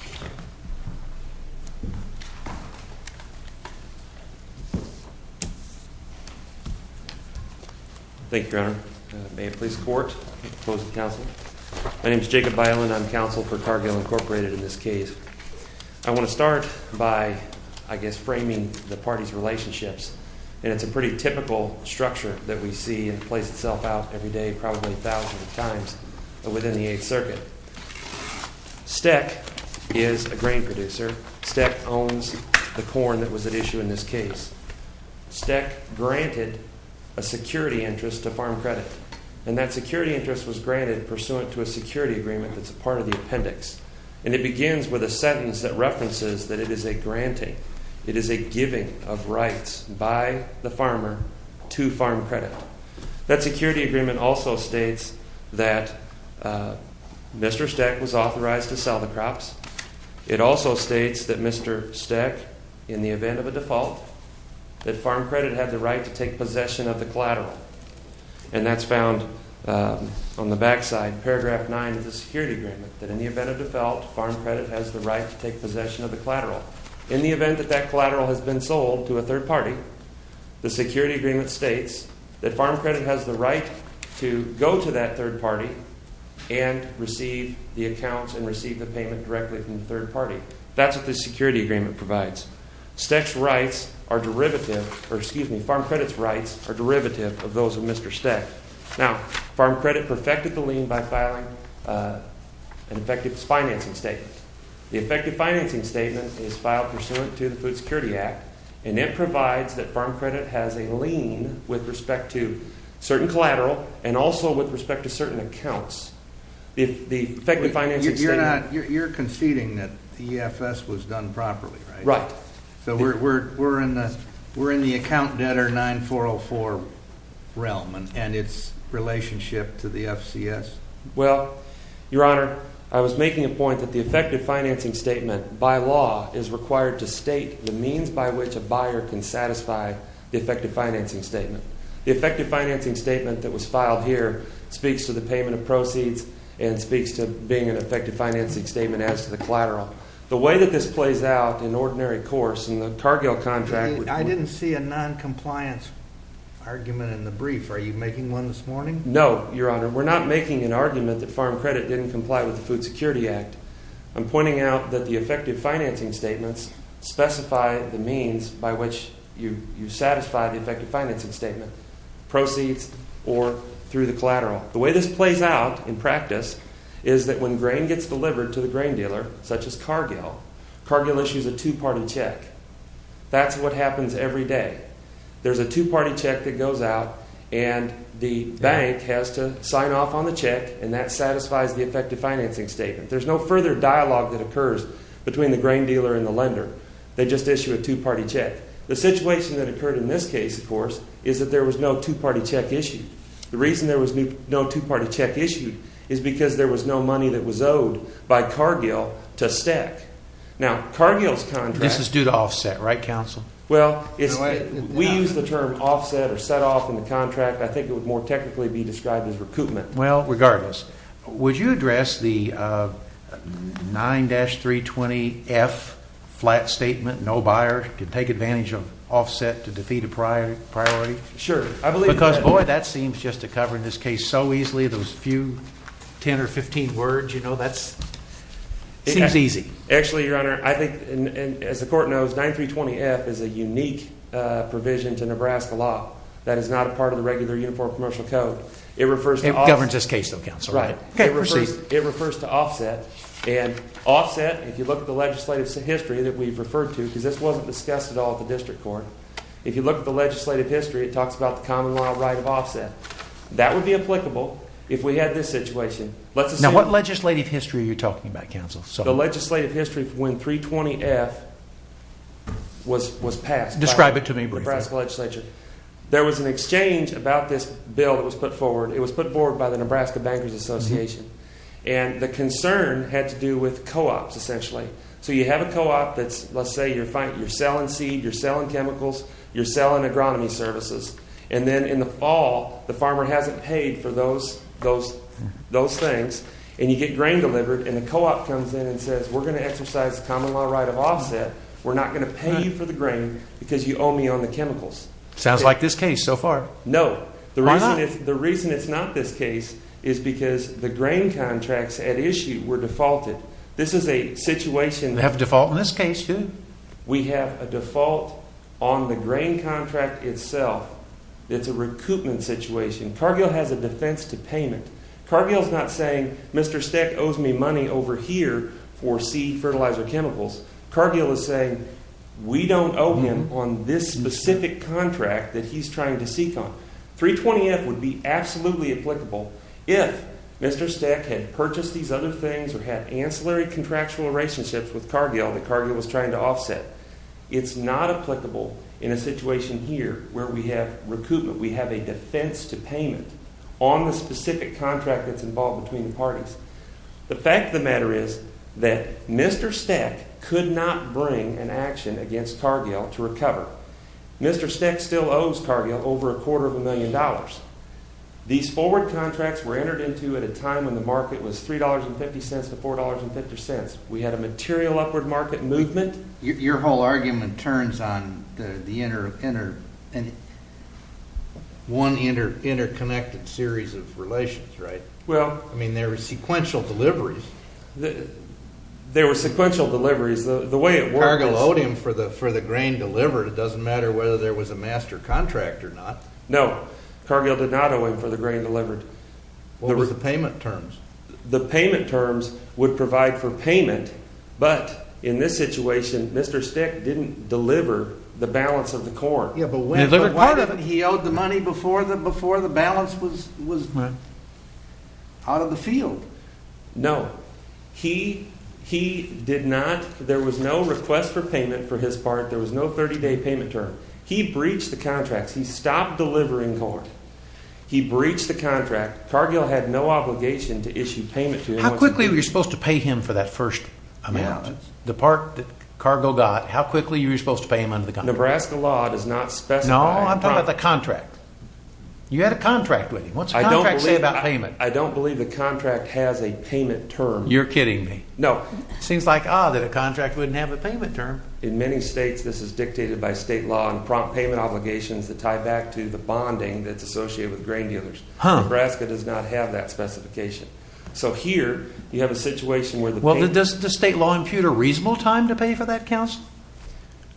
I want to start by, I guess, framing the parties' relationships. And it's a pretty typical structure that we see and plays itself out every day probably a thousand times within the 8th Circuit. Steck is a grain producer. Steck owns the corn that was at issue in this case. Steck granted a security interest to Farm Credit. And that security interest was granted pursuant to a security agreement that's a part of the appendix. And it begins with a sentence that references that it is a granting, it is a giving of rights by the farmer to Farm Credit. That security agreement also states that Mr. Steck was authorized to sell the crops. It also states that Mr. Steck, in the event of a default, that Farm Credit had the right to take possession of the collateral. And that's found on the backside, paragraph 9 of the security agreement. That in the event of a default, Farm Credit has the right to take possession of the collateral. In the event that that collateral has been sold to a third party, the security agreement states that Farm Credit has the right to go to that third party and receive the accounts and receive the payment directly from the third party. That's what this security agreement provides. Farm Credit's rights are derivative of those of Mr. Steck. Now, Farm Credit perfected the lien by filing an effective financing statement. The effective financing statement is filed pursuant to the Food Security Act and it provides that Farm Credit has a lien with respect to certain collateral and also with respect to certain accounts. You're conceding that the EFS was done properly, right? Right. So we're in the account debtor 9404 realm and its relationship to the FCS? Well, Your Honor, I was making a point that the effective financing statement, by law, is required to state the means by which a buyer can satisfy the effective financing statement. The effective financing statement that was filed here speaks to the payment of proceeds and speaks to being an effective financing statement as to the collateral. The way that this plays out in ordinary course in the Cargill contract… I didn't see a noncompliance argument in the brief. Are you making one this morning? No, Your Honor. We're not making an argument that Farm Credit didn't comply with the Food Security Act. I'm pointing out that the effective financing statements specify the means by which you satisfy the effective financing statement, proceeds or through the collateral. The way this plays out in practice is that when grain gets delivered to the grain dealer such as Cargill, Cargill issues a two-party check. That's what happens every day. There's a two-party check that goes out, and the bank has to sign off on the check, and that satisfies the effective financing statement. There's no further dialogue that occurs between the grain dealer and the lender. They just issue a two-party check. The situation that occurred in this case, of course, is that there was no two-party check issued. The reason there was no two-party check issued is because there was no money that was owed by Cargill to stack. Now, Cargill's contract… This is due to offset, right, counsel? Well, we use the term offset or set-off in the contract. I think it would more technically be described as recoupment. Well, regardless, would you address the 9-320F flat statement, no buyer can take advantage of offset to defeat a priority? Because, boy, that seems just to cover this case so easily. Those few 10 or 15 words, you know, that seems easy. Actually, your honor, I think, as the court knows, 9-320F is a unique provision to Nebraska law that is not a part of the regular Uniform Commercial Code. It governs this case, though, counsel. Right. Okay, proceed. It refers to offset, and offset, if you look at the legislative history that we've referred to, because this wasn't discussed at all at the district court, if you look at the legislative history, it talks about the common law right of offset. That would be applicable if we had this situation. Now, what legislative history are you talking about, counsel? The legislative history when 320F was passed. Describe it to me briefly. There was an exchange about this bill that was put forward. It was put forward by the Nebraska Bankers Association, and the concern had to do with co-ops, essentially. So you have a co-op that's, let's say, you're selling seed, you're selling chemicals, you're selling agronomy services. And then in the fall, the farmer hasn't paid for those things, and you get grain delivered, and the co-op comes in and says, we're going to exercise the common law right of offset. We're not going to pay you for the grain because you owe me on the chemicals. Sounds like this case so far. No. Why not? The reason it's not this case is because the grain contracts at issue were defaulted. This is a situation that… We have a default in this case, too. We have a default on the grain contract itself. It's a recoupment situation. Cargill has a defense to payment. Cargill's not saying, Mr. Steck owes me money over here for seed, fertilizer, chemicals. Cargill is saying, we don't owe him on this specific contract that he's trying to seek on. 320F would be absolutely applicable if Mr. Steck had purchased these other things or had ancillary contractual relationships with Cargill that Cargill was trying to offset. It's not applicable in a situation here where we have recoupment. We have a defense to payment on the specific contract that's involved between the parties. The fact of the matter is that Mr. Steck could not bring an action against Cargill to recover. Mr. Steck still owes Cargill over a quarter of a million dollars. These forward contracts were entered into at a time when the market was $3.50 to $4.50. We had a material upward market movement. Your whole argument turns on one interconnected series of relations, right? Well… I mean, there were sequential deliveries. There were sequential deliveries. Cargill owed him for the grain delivered. It doesn't matter whether there was a master contract or not. No, Cargill did not owe him for the grain delivered. What were the payment terms? The payment terms would provide for payment, but in this situation, Mr. Steck didn't deliver the balance of the corn. Yeah, but when? He owed the money before the balance was out of the field. No, he did not. There was no request for payment for his part. There was no 30-day payment term. He breached the contracts. He stopped delivering corn. He breached the contract. Cargill had no obligation to issue payment to him. How quickly were you supposed to pay him for that first amount, the part that Cargill got? How quickly were you supposed to pay him under the contract? Nebraska law does not specify… No, I'm talking about the contract. You had a contract with him. What's the contract say about payment? I don't believe the contract has a payment term. You're kidding me. No. It seems like, ah, that a contract wouldn't have a payment term. In many states, this is dictated by state law and prompt payment obligations that tie back to the bonding that's associated with grain dealers. Nebraska does not have that specification. So here, you have a situation where the payment… Well, does state law impute a reasonable time to pay for that, counsel?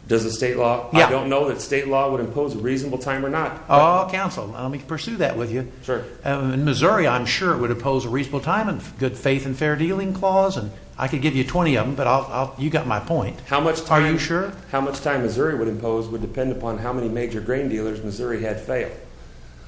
Does the state law? I don't know that state law would impose a reasonable time or not. Oh, counsel, let me pursue that with you. Sure. In Missouri, I'm sure it would impose a reasonable time and good faith and fair dealing clause, and I could give you 20 of them, but you've got my point. How much time… Are you sure? How much time Missouri would impose would depend upon how many major grain dealers Missouri had failed.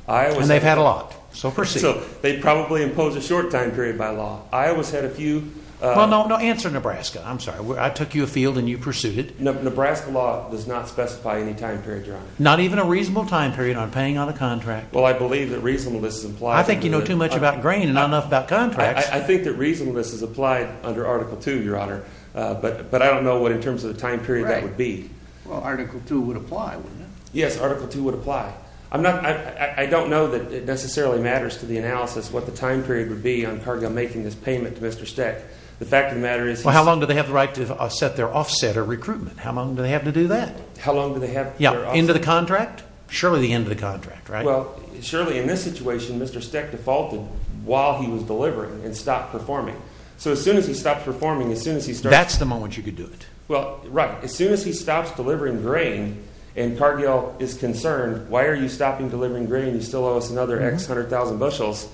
And they've had a lot, so proceed. So they'd probably impose a short time period by law. Iowa's had a few… Well, no, answer Nebraska. I'm sorry. I took you afield and you pursued it. Nebraska law does not specify any time period, Your Honor. Not even a reasonable time period on paying on a contract. Well, I believe that reasonableness is implied… I think you know too much about grain and not enough about contracts. I think that reasonableness is applied under Article II, Your Honor, but I don't know what in terms of the time period that would be. Well, Article II would apply, wouldn't it? Yes, Article II would apply. I don't know that it necessarily matters to the analysis what the time period would be on Cargill making this payment to Mr. Steck. The fact of the matter is… Well, how long do they have the right to set their offset or recruitment? How long do they have to do that? How long do they have… End of the contract? Surely the end of the contract, right? Well, surely in this situation, Mr. Steck defaulted while he was delivering and stopped performing. So as soon as he stopped performing, as soon as he started… That's the moment you could do it. Well, right. As soon as he stops delivering grain and Cargill is concerned, why are you stopping delivering grain? You still owe us another X hundred thousand bushels.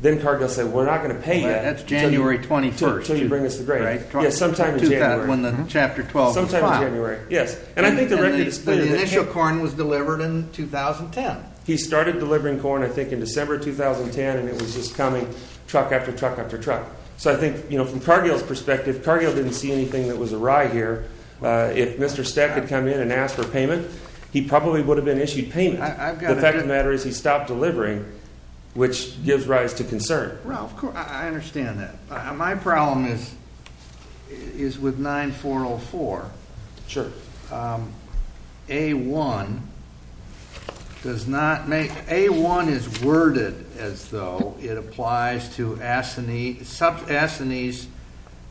Then Cargill said, we're not going to pay you. That's January 21st. Until you bring us the grain. Right. Sometime in January. When the Chapter 12 was filed. Sometime in January, yes. And I think the record is clear that… The initial corn was delivered in 2010. He started delivering corn, I think, in December 2010 and it was just coming truck after truck after truck. So I think, you know, from Cargill's perspective, Cargill didn't see anything that was awry here. If Mr. Steck had come in and asked for payment, he probably would have been issued payment. The fact of the matter is he stopped delivering, which gives rise to concern. Ralph, I understand that. My problem is with 9404. Sure. A1 does not make… A1 is worded as though it applies to assinees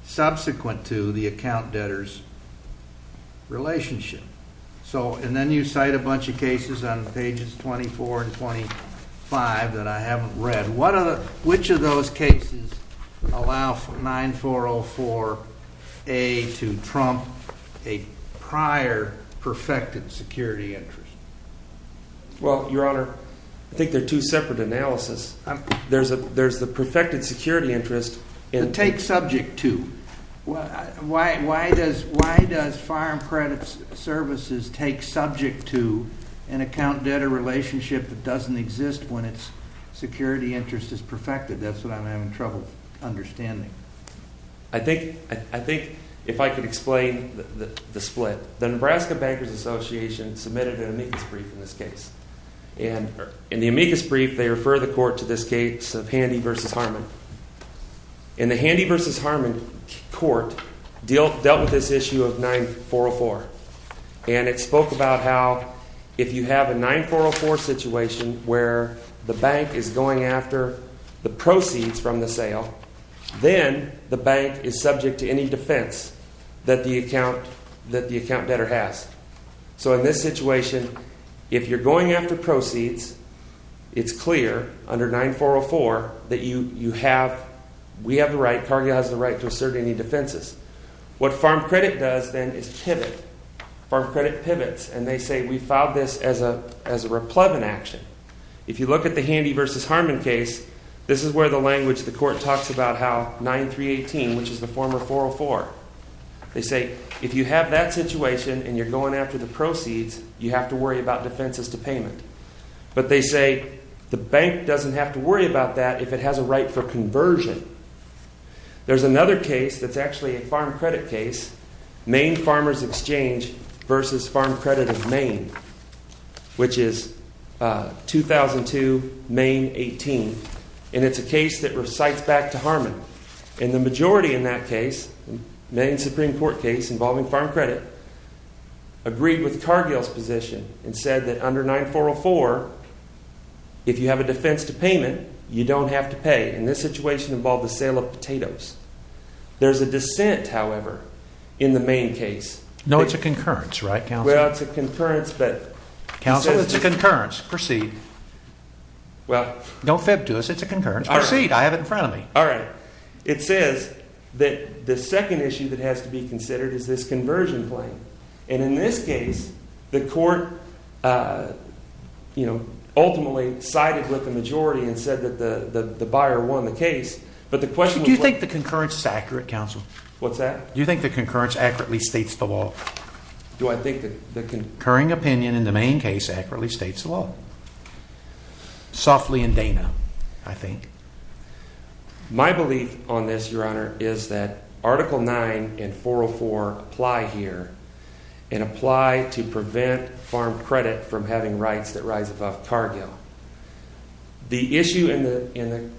subsequent to the account debtor's relationship. And then you cite a bunch of cases on pages 24 and 25 that I haven't read. Which of those cases allow 9404A to trump a prior perfected security interest? Well, Your Honor, I think they're two separate analyses. There's the perfected security interest. The take subject to. Why does Fire and Credit Services take subject to an account debtor relationship that doesn't exist when its security interest is perfected? That's what I'm having trouble understanding. I think if I could explain the split. The Nebraska Bankers Association submitted an amicus brief in this case. In the amicus brief, they refer the court to this case of Handy v. Harmon. And the Handy v. Harmon court dealt with this issue of 9404. And it spoke about how if you have a 9404 situation where the bank is going after the proceeds from the sale, then the bank is subject to any defense that the account debtor has. So in this situation, if you're going after proceeds, it's clear under 9404 that you have, we have the right, Cargill has the right to assert any defenses. What Farm Credit does then is pivot. Farm Credit pivots, and they say we filed this as a replevant action. If you look at the Handy v. Harmon case, this is where the language of the court talks about how 9318, which is the former 404. They say if you have that situation and you're going after the proceeds, you have to worry about defenses to payment. But they say the bank doesn't have to worry about that if it has a right for conversion. There's another case that's actually a Farm Credit case, Maine Farmers Exchange v. Farm Credit of Maine, which is 2002, Maine 18. And it's a case that recites back to Harmon. And the majority in that case, Maine Supreme Court case involving Farm Credit, agreed with Cargill's position and said that under 9404, if you have a defense to payment, you don't have to pay. And this situation involved the sale of potatoes. There's a dissent, however, in the Maine case. No, it's a concurrence, right, counsel? Well, it's a concurrence, but. Counsel, it's a concurrence. Proceed. Well. Don't fib to us. It's a concurrence. Proceed. I have it in front of me. All right. It says that the second issue that has to be considered is this conversion claim. And in this case, the court, you know, ultimately sided with the majority and said that the buyer won the case. Do you think the concurrence is accurate, counsel? What's that? Do you think the concurrence accurately states the law? Do I think that the concurring opinion in the Maine case accurately states the law? Softly in Dana, I think. My belief on this, Your Honor, is that Article 9 and 404 apply here and apply to prevent farm credit from having rights that rise above Cargill. The issue in the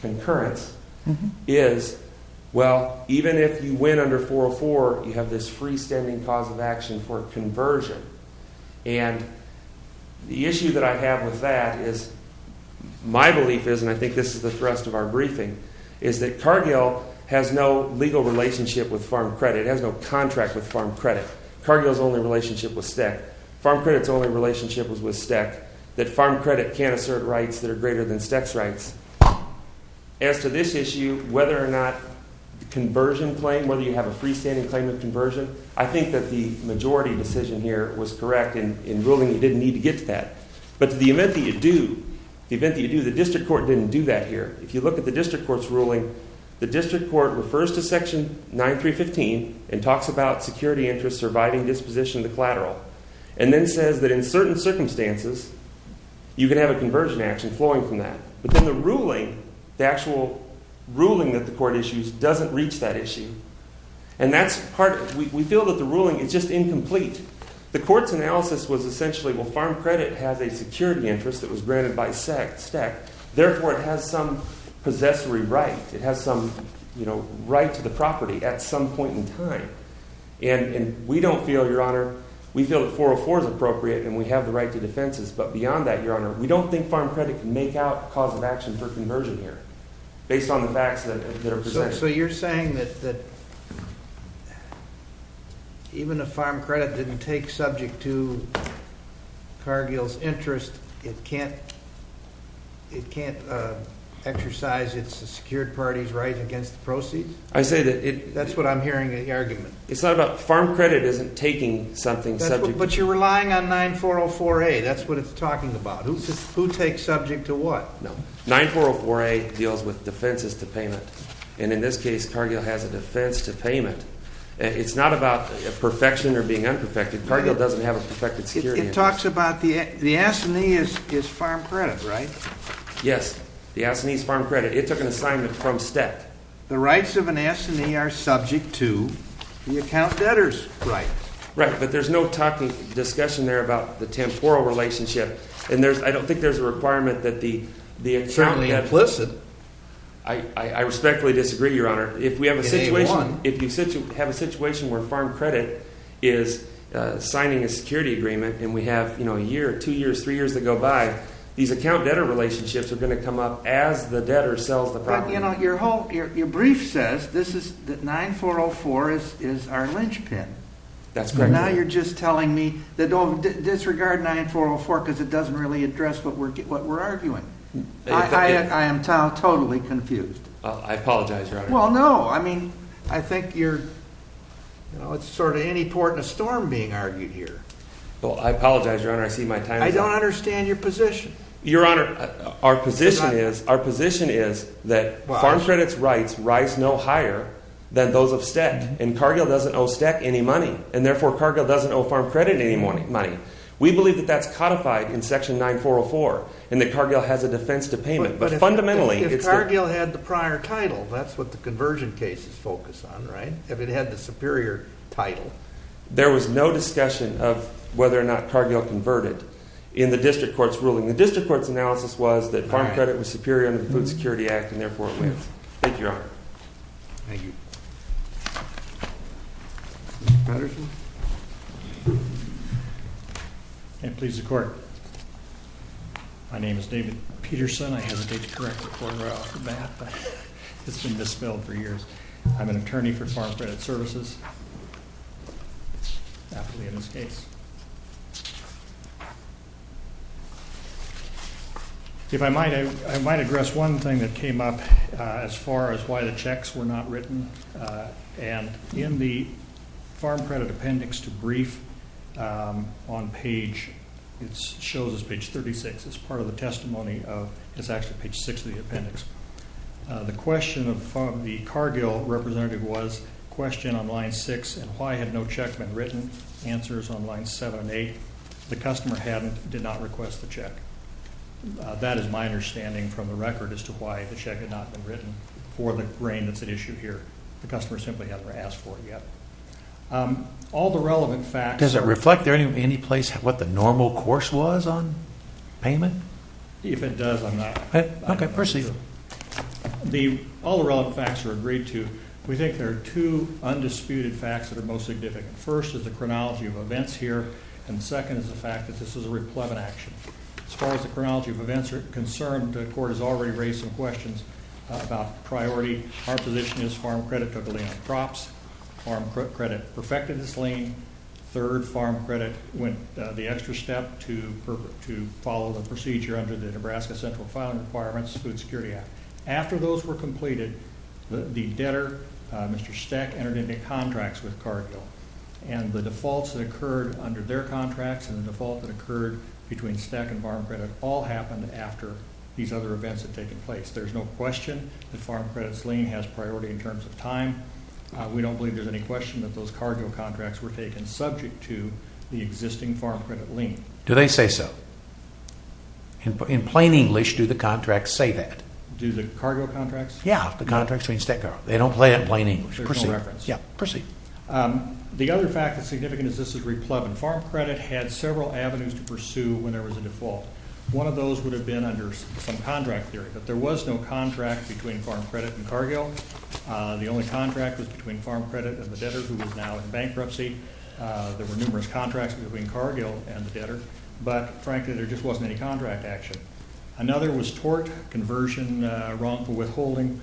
concurrence is, well, even if you win under 404, you have this freestanding cause of action for conversion. And the issue that I have with that is my belief is, and I think this is the thrust of our briefing, is that Cargill has no legal relationship with farm credit. It has no contract with farm credit. Cargill's only relationship with STEC. Farm credit's only relationship was with STEC. That farm credit can't assert rights that are greater than STEC's rights. As to this issue, whether or not the conversion claim, whether you have a freestanding claim of conversion, I think that the majority decision here was correct in ruling you didn't need to get to that. But to the event that you do, the event that you do, the district court didn't do that here. If you look at the district court's ruling, the district court refers to Section 9315 and talks about security interests, surviving disposition, the collateral. And then says that in certain circumstances, you can have a conversion action flowing from that. But then the ruling, the actual ruling that the court issues doesn't reach that issue. And that's part, we feel that the ruling is just incomplete. The court's analysis was essentially, well, farm credit has a security interest that was granted by STEC. Therefore, it has some possessory right. It has some right to the property at some point in time. And we don't feel, Your Honor, we feel that 404 is appropriate and we have the right to defenses. But beyond that, Your Honor, we don't think farm credit can make out cause of action for conversion here based on the facts that are presented. So you're saying that even if farm credit didn't take subject to Cargill's interest, it can't exercise its secured party's right against the proceeds? I say that- That's what I'm hearing in the argument. It's not about, farm credit isn't taking something subject to- But you're relying on 9404A. That's what it's talking about. Who takes subject to what? 9404A deals with defenses to payment. And in this case, Cargill has a defense to payment. It's not about perfection or being unperfected. Cargill doesn't have a perfected security interest. It talks about, the assignee is farm credit, right? Yes, the assignee is farm credit. It took an assignment from STEC. The rights of an assignee are subject to the account debtor's rights. Right, but there's no discussion there about the temporal relationship. I don't think there's a requirement that the- It's certainly implicit. I respectfully disagree, Your Honor. If we have a situation where farm credit is signing a security agreement and we have a year, two years, three years to go by, these account debtor relationships are going to come up as the debtor sells the property. But your brief says that 9404 is our linchpin. That's correct, Your Honor. Now you're just telling me, disregard 9404 because it doesn't really address what we're arguing. I am totally confused. I apologize, Your Honor. Well, no. I mean, I think you're, you know, it's sort of any port in a storm being argued here. Well, I apologize, Your Honor. I see my time is up. I don't understand your position. Your Honor, our position is that farm credit's rights rise no higher than those of STEC. And Cargill doesn't owe STEC any money. And therefore, Cargill doesn't owe farm credit any money. We believe that that's codified in section 9404 and that Cargill has a defense to payment. But fundamentally- But if Cargill had the prior title, that's what the conversion case is focused on, right? If it had the superior title. There was no discussion of whether or not Cargill converted in the district court's ruling. The district court's analysis was that farm credit was superior under the Food Security Act and therefore it wins. Thank you, Your Honor. Thank you. Mr. Patterson. It pleases the court. My name is David Peterson. I hesitate to correct the quarter out of the bat. It's been dispelled for years. I'm an attorney for Farm Credit Services. Happily in this case. If I might, I might address one thing that came up as far as why the checks were not written. And in the Farm Credit Appendix to Brief on page-it shows us page 36. It's part of the testimony of-it's actually page 6 of the appendix. The question of the Cargill representative was question on line 6 and why had no check been written. Answers on line 7 and 8. The customer did not request the check. That is my understanding from the record as to why the check had not been written. For the brain that's at issue here. The customer simply hasn't asked for it yet. All the relevant facts- Does it reflect any place what the normal course was on payment? If it does, I'm not- Okay, proceed. All the relevant facts are agreed to. We think there are two undisputed facts that are most significant. First is the chronology of events here. And second is the fact that this is a replevant action. As far as the chronology of events are concerned, the court has already raised some questions about priority. Our position is Farm Credit took a lean on crops. Farm Credit perfected this lean. Third, Farm Credit went the extra step to follow the procedure under the Nebraska Central Farm Requirements Food Security Act. After those were completed, the debtor, Mr. Steck, entered into contracts with Cargill. And the defaults that occurred under their contracts and the default that occurred between Steck and Farm Credit all happened after these other events had taken place. There's no question that Farm Credit's lean has priority in terms of time. We don't believe there's any question that those Cargill contracts were taken subject to the existing Farm Credit lean. Do they say so? In plain English, do the contracts say that? Do the Cargill contracts? Yeah, the contracts between Steck and Cargill. They don't play it in plain English. There's no reference. Yeah, proceed. The other fact that's significant is this is replevant. Farm Credit had several avenues to pursue when there was a default. One of those would have been under some contract theory. But there was no contract between Farm Credit and Cargill. The only contract was between Farm Credit and the debtor who was now in bankruptcy. There were numerous contracts between Cargill and the debtor. But, frankly, there just wasn't any contract action. Another was tort, conversion, wrongful withholding.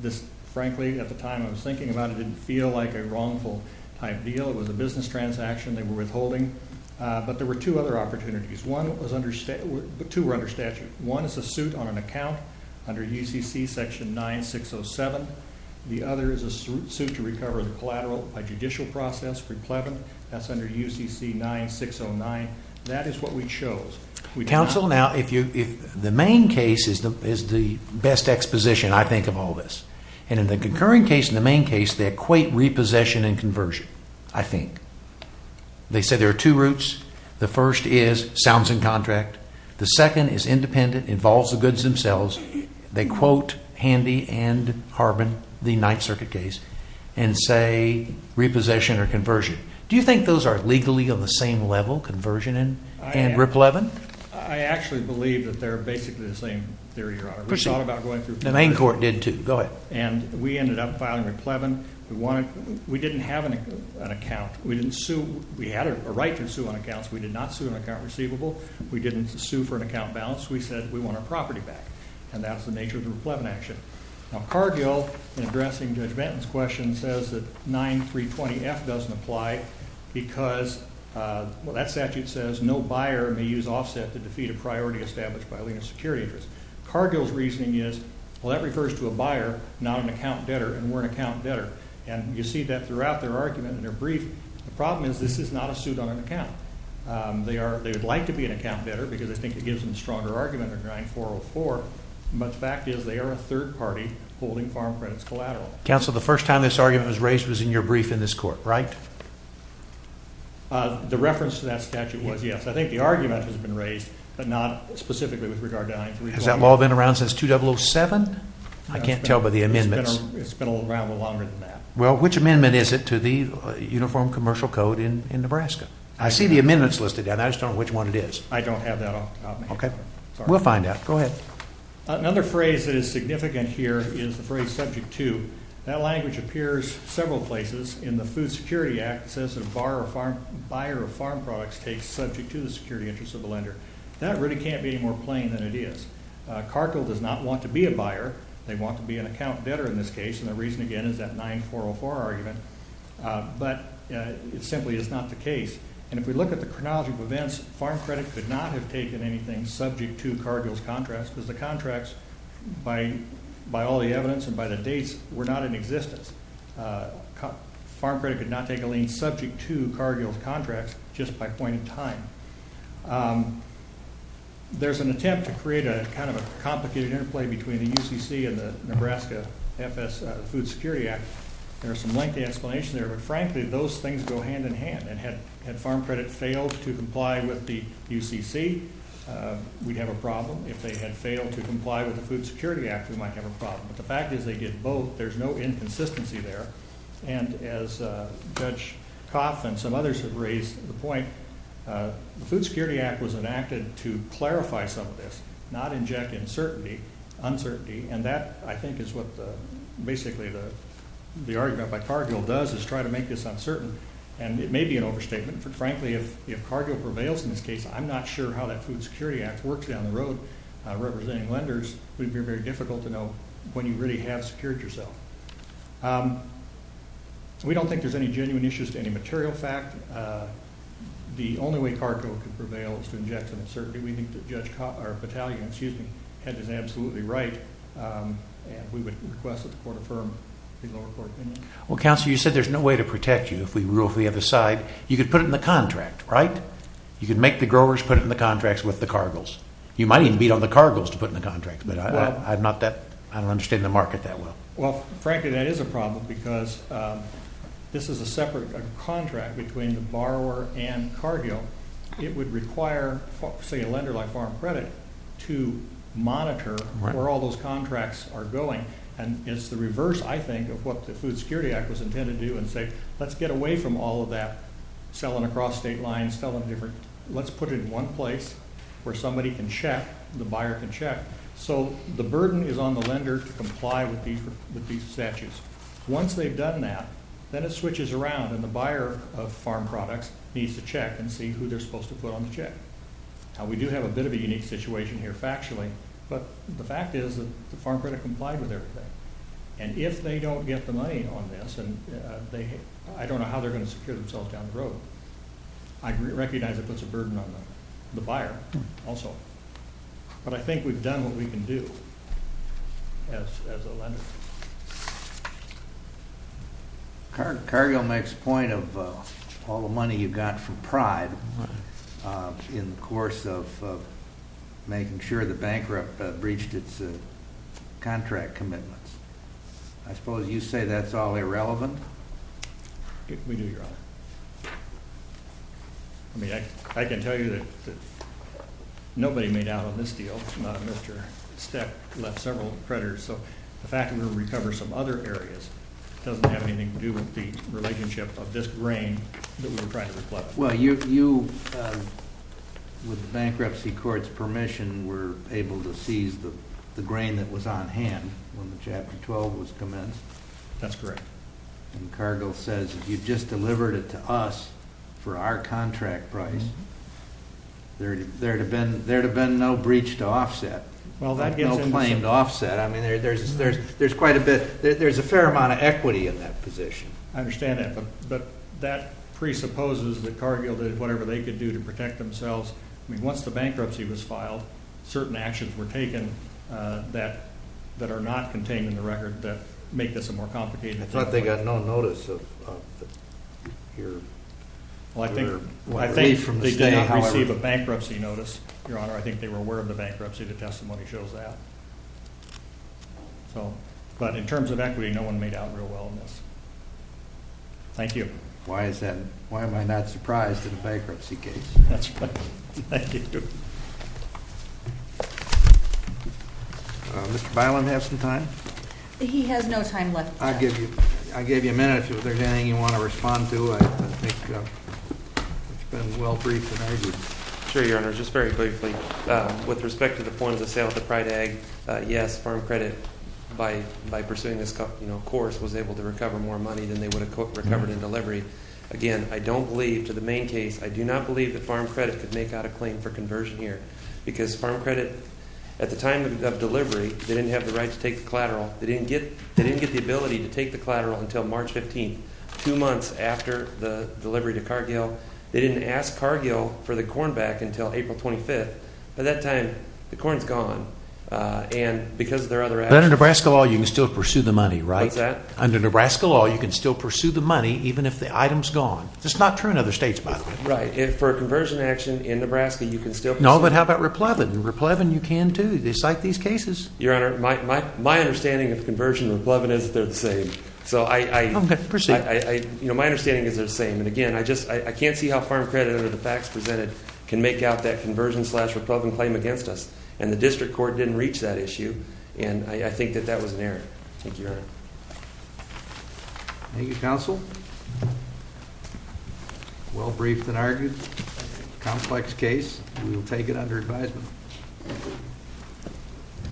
This, frankly, at the time I was thinking about it didn't feel like a wrongful type deal. It was a business transaction. They were withholding. But there were two other opportunities. Two were under statute. One is a suit on an account under UCC section 9607. The other is a suit to recover the collateral by judicial process, replevant. That's under UCC 9609. That is what we chose. Counsel, now, the main case is the best exposition, I think, of all this. And in the concurring case and the main case, they equate repossession and conversion, I think. They say there are two routes. The first is sounds and contract. The second is independent, involves the goods themselves. They quote Handy and Harbin, the Ninth Circuit case, and say repossession or conversion. Do you think those are legally on the same level, conversion and replevant? I actually believe that they're basically the same theory, Your Honor. The main court did, too. Go ahead. And we ended up filing replevant. We didn't have an account. We didn't sue. We had a right to sue on accounts. We did not sue an account receivable. We didn't sue for an account balance. We said we want our property back. And that's the nature of the replevant action. Now, Cargill, in addressing Judge Benton's question, says that 9320F doesn't apply because, well, that statute says no buyer may use offset to defeat a priority established by a lien of security interest. Cargill's reasoning is, well, that refers to a buyer, not an account debtor, and we're an account debtor. And you see that throughout their argument in their brief. The problem is this is not a suit on an account. They would like to be an account debtor because I think it gives them a stronger argument than 9404, but the fact is they are a third party holding farm credits collateral. Counsel, the first time this argument was raised was in your brief in this court, right? The reference to that statute was, yes. I think the argument has been raised, but not specifically with regard to 9320F. Has that law been around since 2007? I can't tell by the amendments. It's been around a little longer than that. Well, which amendment is it to the Uniform Commercial Code in Nebraska? I see the amendments listed there, and I just don't know which one it is. I don't have that on me. Okay. We'll find out. Go ahead. Another phrase that is significant here is the phrase subject to. That language appears several places in the Food Security Act. It says that a buyer of farm products takes subject to the security interest of the lender. That really can't be any more plain than it is. Cargill does not want to be a buyer. They want to be an account debtor in this case, and the reason, again, is that 9404 argument. But it simply is not the case. And if we look at the chronology of events, farm credit could not have taken anything subject to Cargill's contracts because the contracts, by all the evidence and by the dates, were not in existence. Farm credit could not take a lien subject to Cargill's contracts just by point in time. There's an attempt to create kind of a complicated interplay between the UCC and the Nebraska FS Food Security Act. There are some lengthy explanations there, but frankly, those things go hand in hand. And had farm credit failed to comply with the UCC, we'd have a problem. If they had failed to comply with the Food Security Act, we might have a problem. But the fact is they did both. There's no inconsistency there. And as Judge Coff and some others have raised the point, the Food Security Act was enacted to clarify some of this, not inject uncertainty. And that, I think, is what basically the argument by Cargill does is try to make this uncertain. And it may be an overstatement, but frankly, if Cargill prevails in this case, I'm not sure how that Food Security Act works down the road representing lenders. It would be very difficult to know when you really have secured yourself. We don't think there's any genuine issues to any material fact. The only way Cargill could prevail is to inject some uncertainty. We think that Judge Battaglia had this absolutely right, and we would request that the court affirm the lower court opinion. Well, Counselor, you said there's no way to protect you if we rule for the other side. You could put it in the contract, right? You could make the growers put it in the contracts with the Cargills. You might even beat on the Cargills to put it in the contract, but I don't understand the market that well. Well, frankly, that is a problem because this is a separate contract between the borrower and Cargill. It would require, say, a lender like Farm Credit to monitor where all those contracts are going, and it's the reverse, I think, of what the Food Security Act was intended to do and say, let's get away from all of that selling across state lines, selling different. Let's put it in one place where somebody can check, the buyer can check. So the burden is on the lender to comply with these statutes. Once they've done that, then it switches around, and the buyer of farm products needs to check and see who they're supposed to put on the check. Now, we do have a bit of a unique situation here factually, but the fact is that the Farm Credit complied with everything, and if they don't get the money on this, I don't know how they're going to secure themselves down the road. I recognize it puts a burden on the buyer also. But I think we've done what we can do as a lender. Cargill makes point of all the money you got from Pride in the course of making sure the bankrupt breached its contract commitments. I suppose you say that's all irrelevant? We do, Your Honor. I mean, I can tell you that nobody made out on this deal. Mr. Steck left several creditors, so the fact that we're going to recover some other areas doesn't have anything to do with the relationship of this grain that we're trying to recover. Well, you, with the bankruptcy court's permission, were able to seize the grain that was on hand when the Chapter 12 was commenced. That's correct. And Cargill says, if you'd just delivered it to us for our contract price, there'd have been no breach to offset. Well, that gets into some... No claim to offset. I mean, there's quite a bit, there's a fair amount of equity in that position. I understand that, but that presupposes that Cargill did whatever they could do to protect themselves. I mean, once the bankruptcy was filed, certain actions were taken that are not contained in the record that make this a more complicated situation. I thought they got no notice of your... Well, I think they did not receive a bankruptcy notice, Your Honor. I think they were aware of the bankruptcy. The testimony shows that. But in terms of equity, no one made out real well on this. Thank you. Why is that? Why am I not surprised in a bankruptcy case? That's right. Thank you. Mr. Bilem has some time. He has no time left. I'll give you a minute if there's anything you want to respond to. I think it's been well briefed and argued. Sure, Your Honor. Just very briefly. With respect to the points of sale of the Pride Ag, yes, Farm Credit, by pursuing this course, was able to recover more money than they would have recovered in delivery. Again, I don't believe, to the main case, I do not believe that Farm Credit could make out a claim for conversion here. Because Farm Credit, at the time of delivery, they didn't have the right to take the collateral. They didn't get the ability to take the collateral until March 15th, two months after the delivery to Cargill. They didn't ask Cargill for the corn back until April 25th. By that time, the corn's gone. And because of their other actions... But under Nebraska law, you can still pursue the money, right? What's that? Under Nebraska law, you can still pursue the money, even if the item's gone. That's not true in other states, by the way. Right. And for a conversion action in Nebraska, you can still pursue the money. No, but how about Replevin? In Replevin, you can, too. They cite these cases. Your Honor, my understanding of conversion and Replevin is that they're the same. So I... Okay, proceed. My understanding is they're the same. And again, I can't see how Farm Credit, under the facts presented, can make out that conversion-slash-Replevin claim against us. And the district court didn't reach that issue. And I think that that was an error. Thank you, Your Honor. Thank you, counsel. Well briefed and argued. Complex case. We will take it under advisement.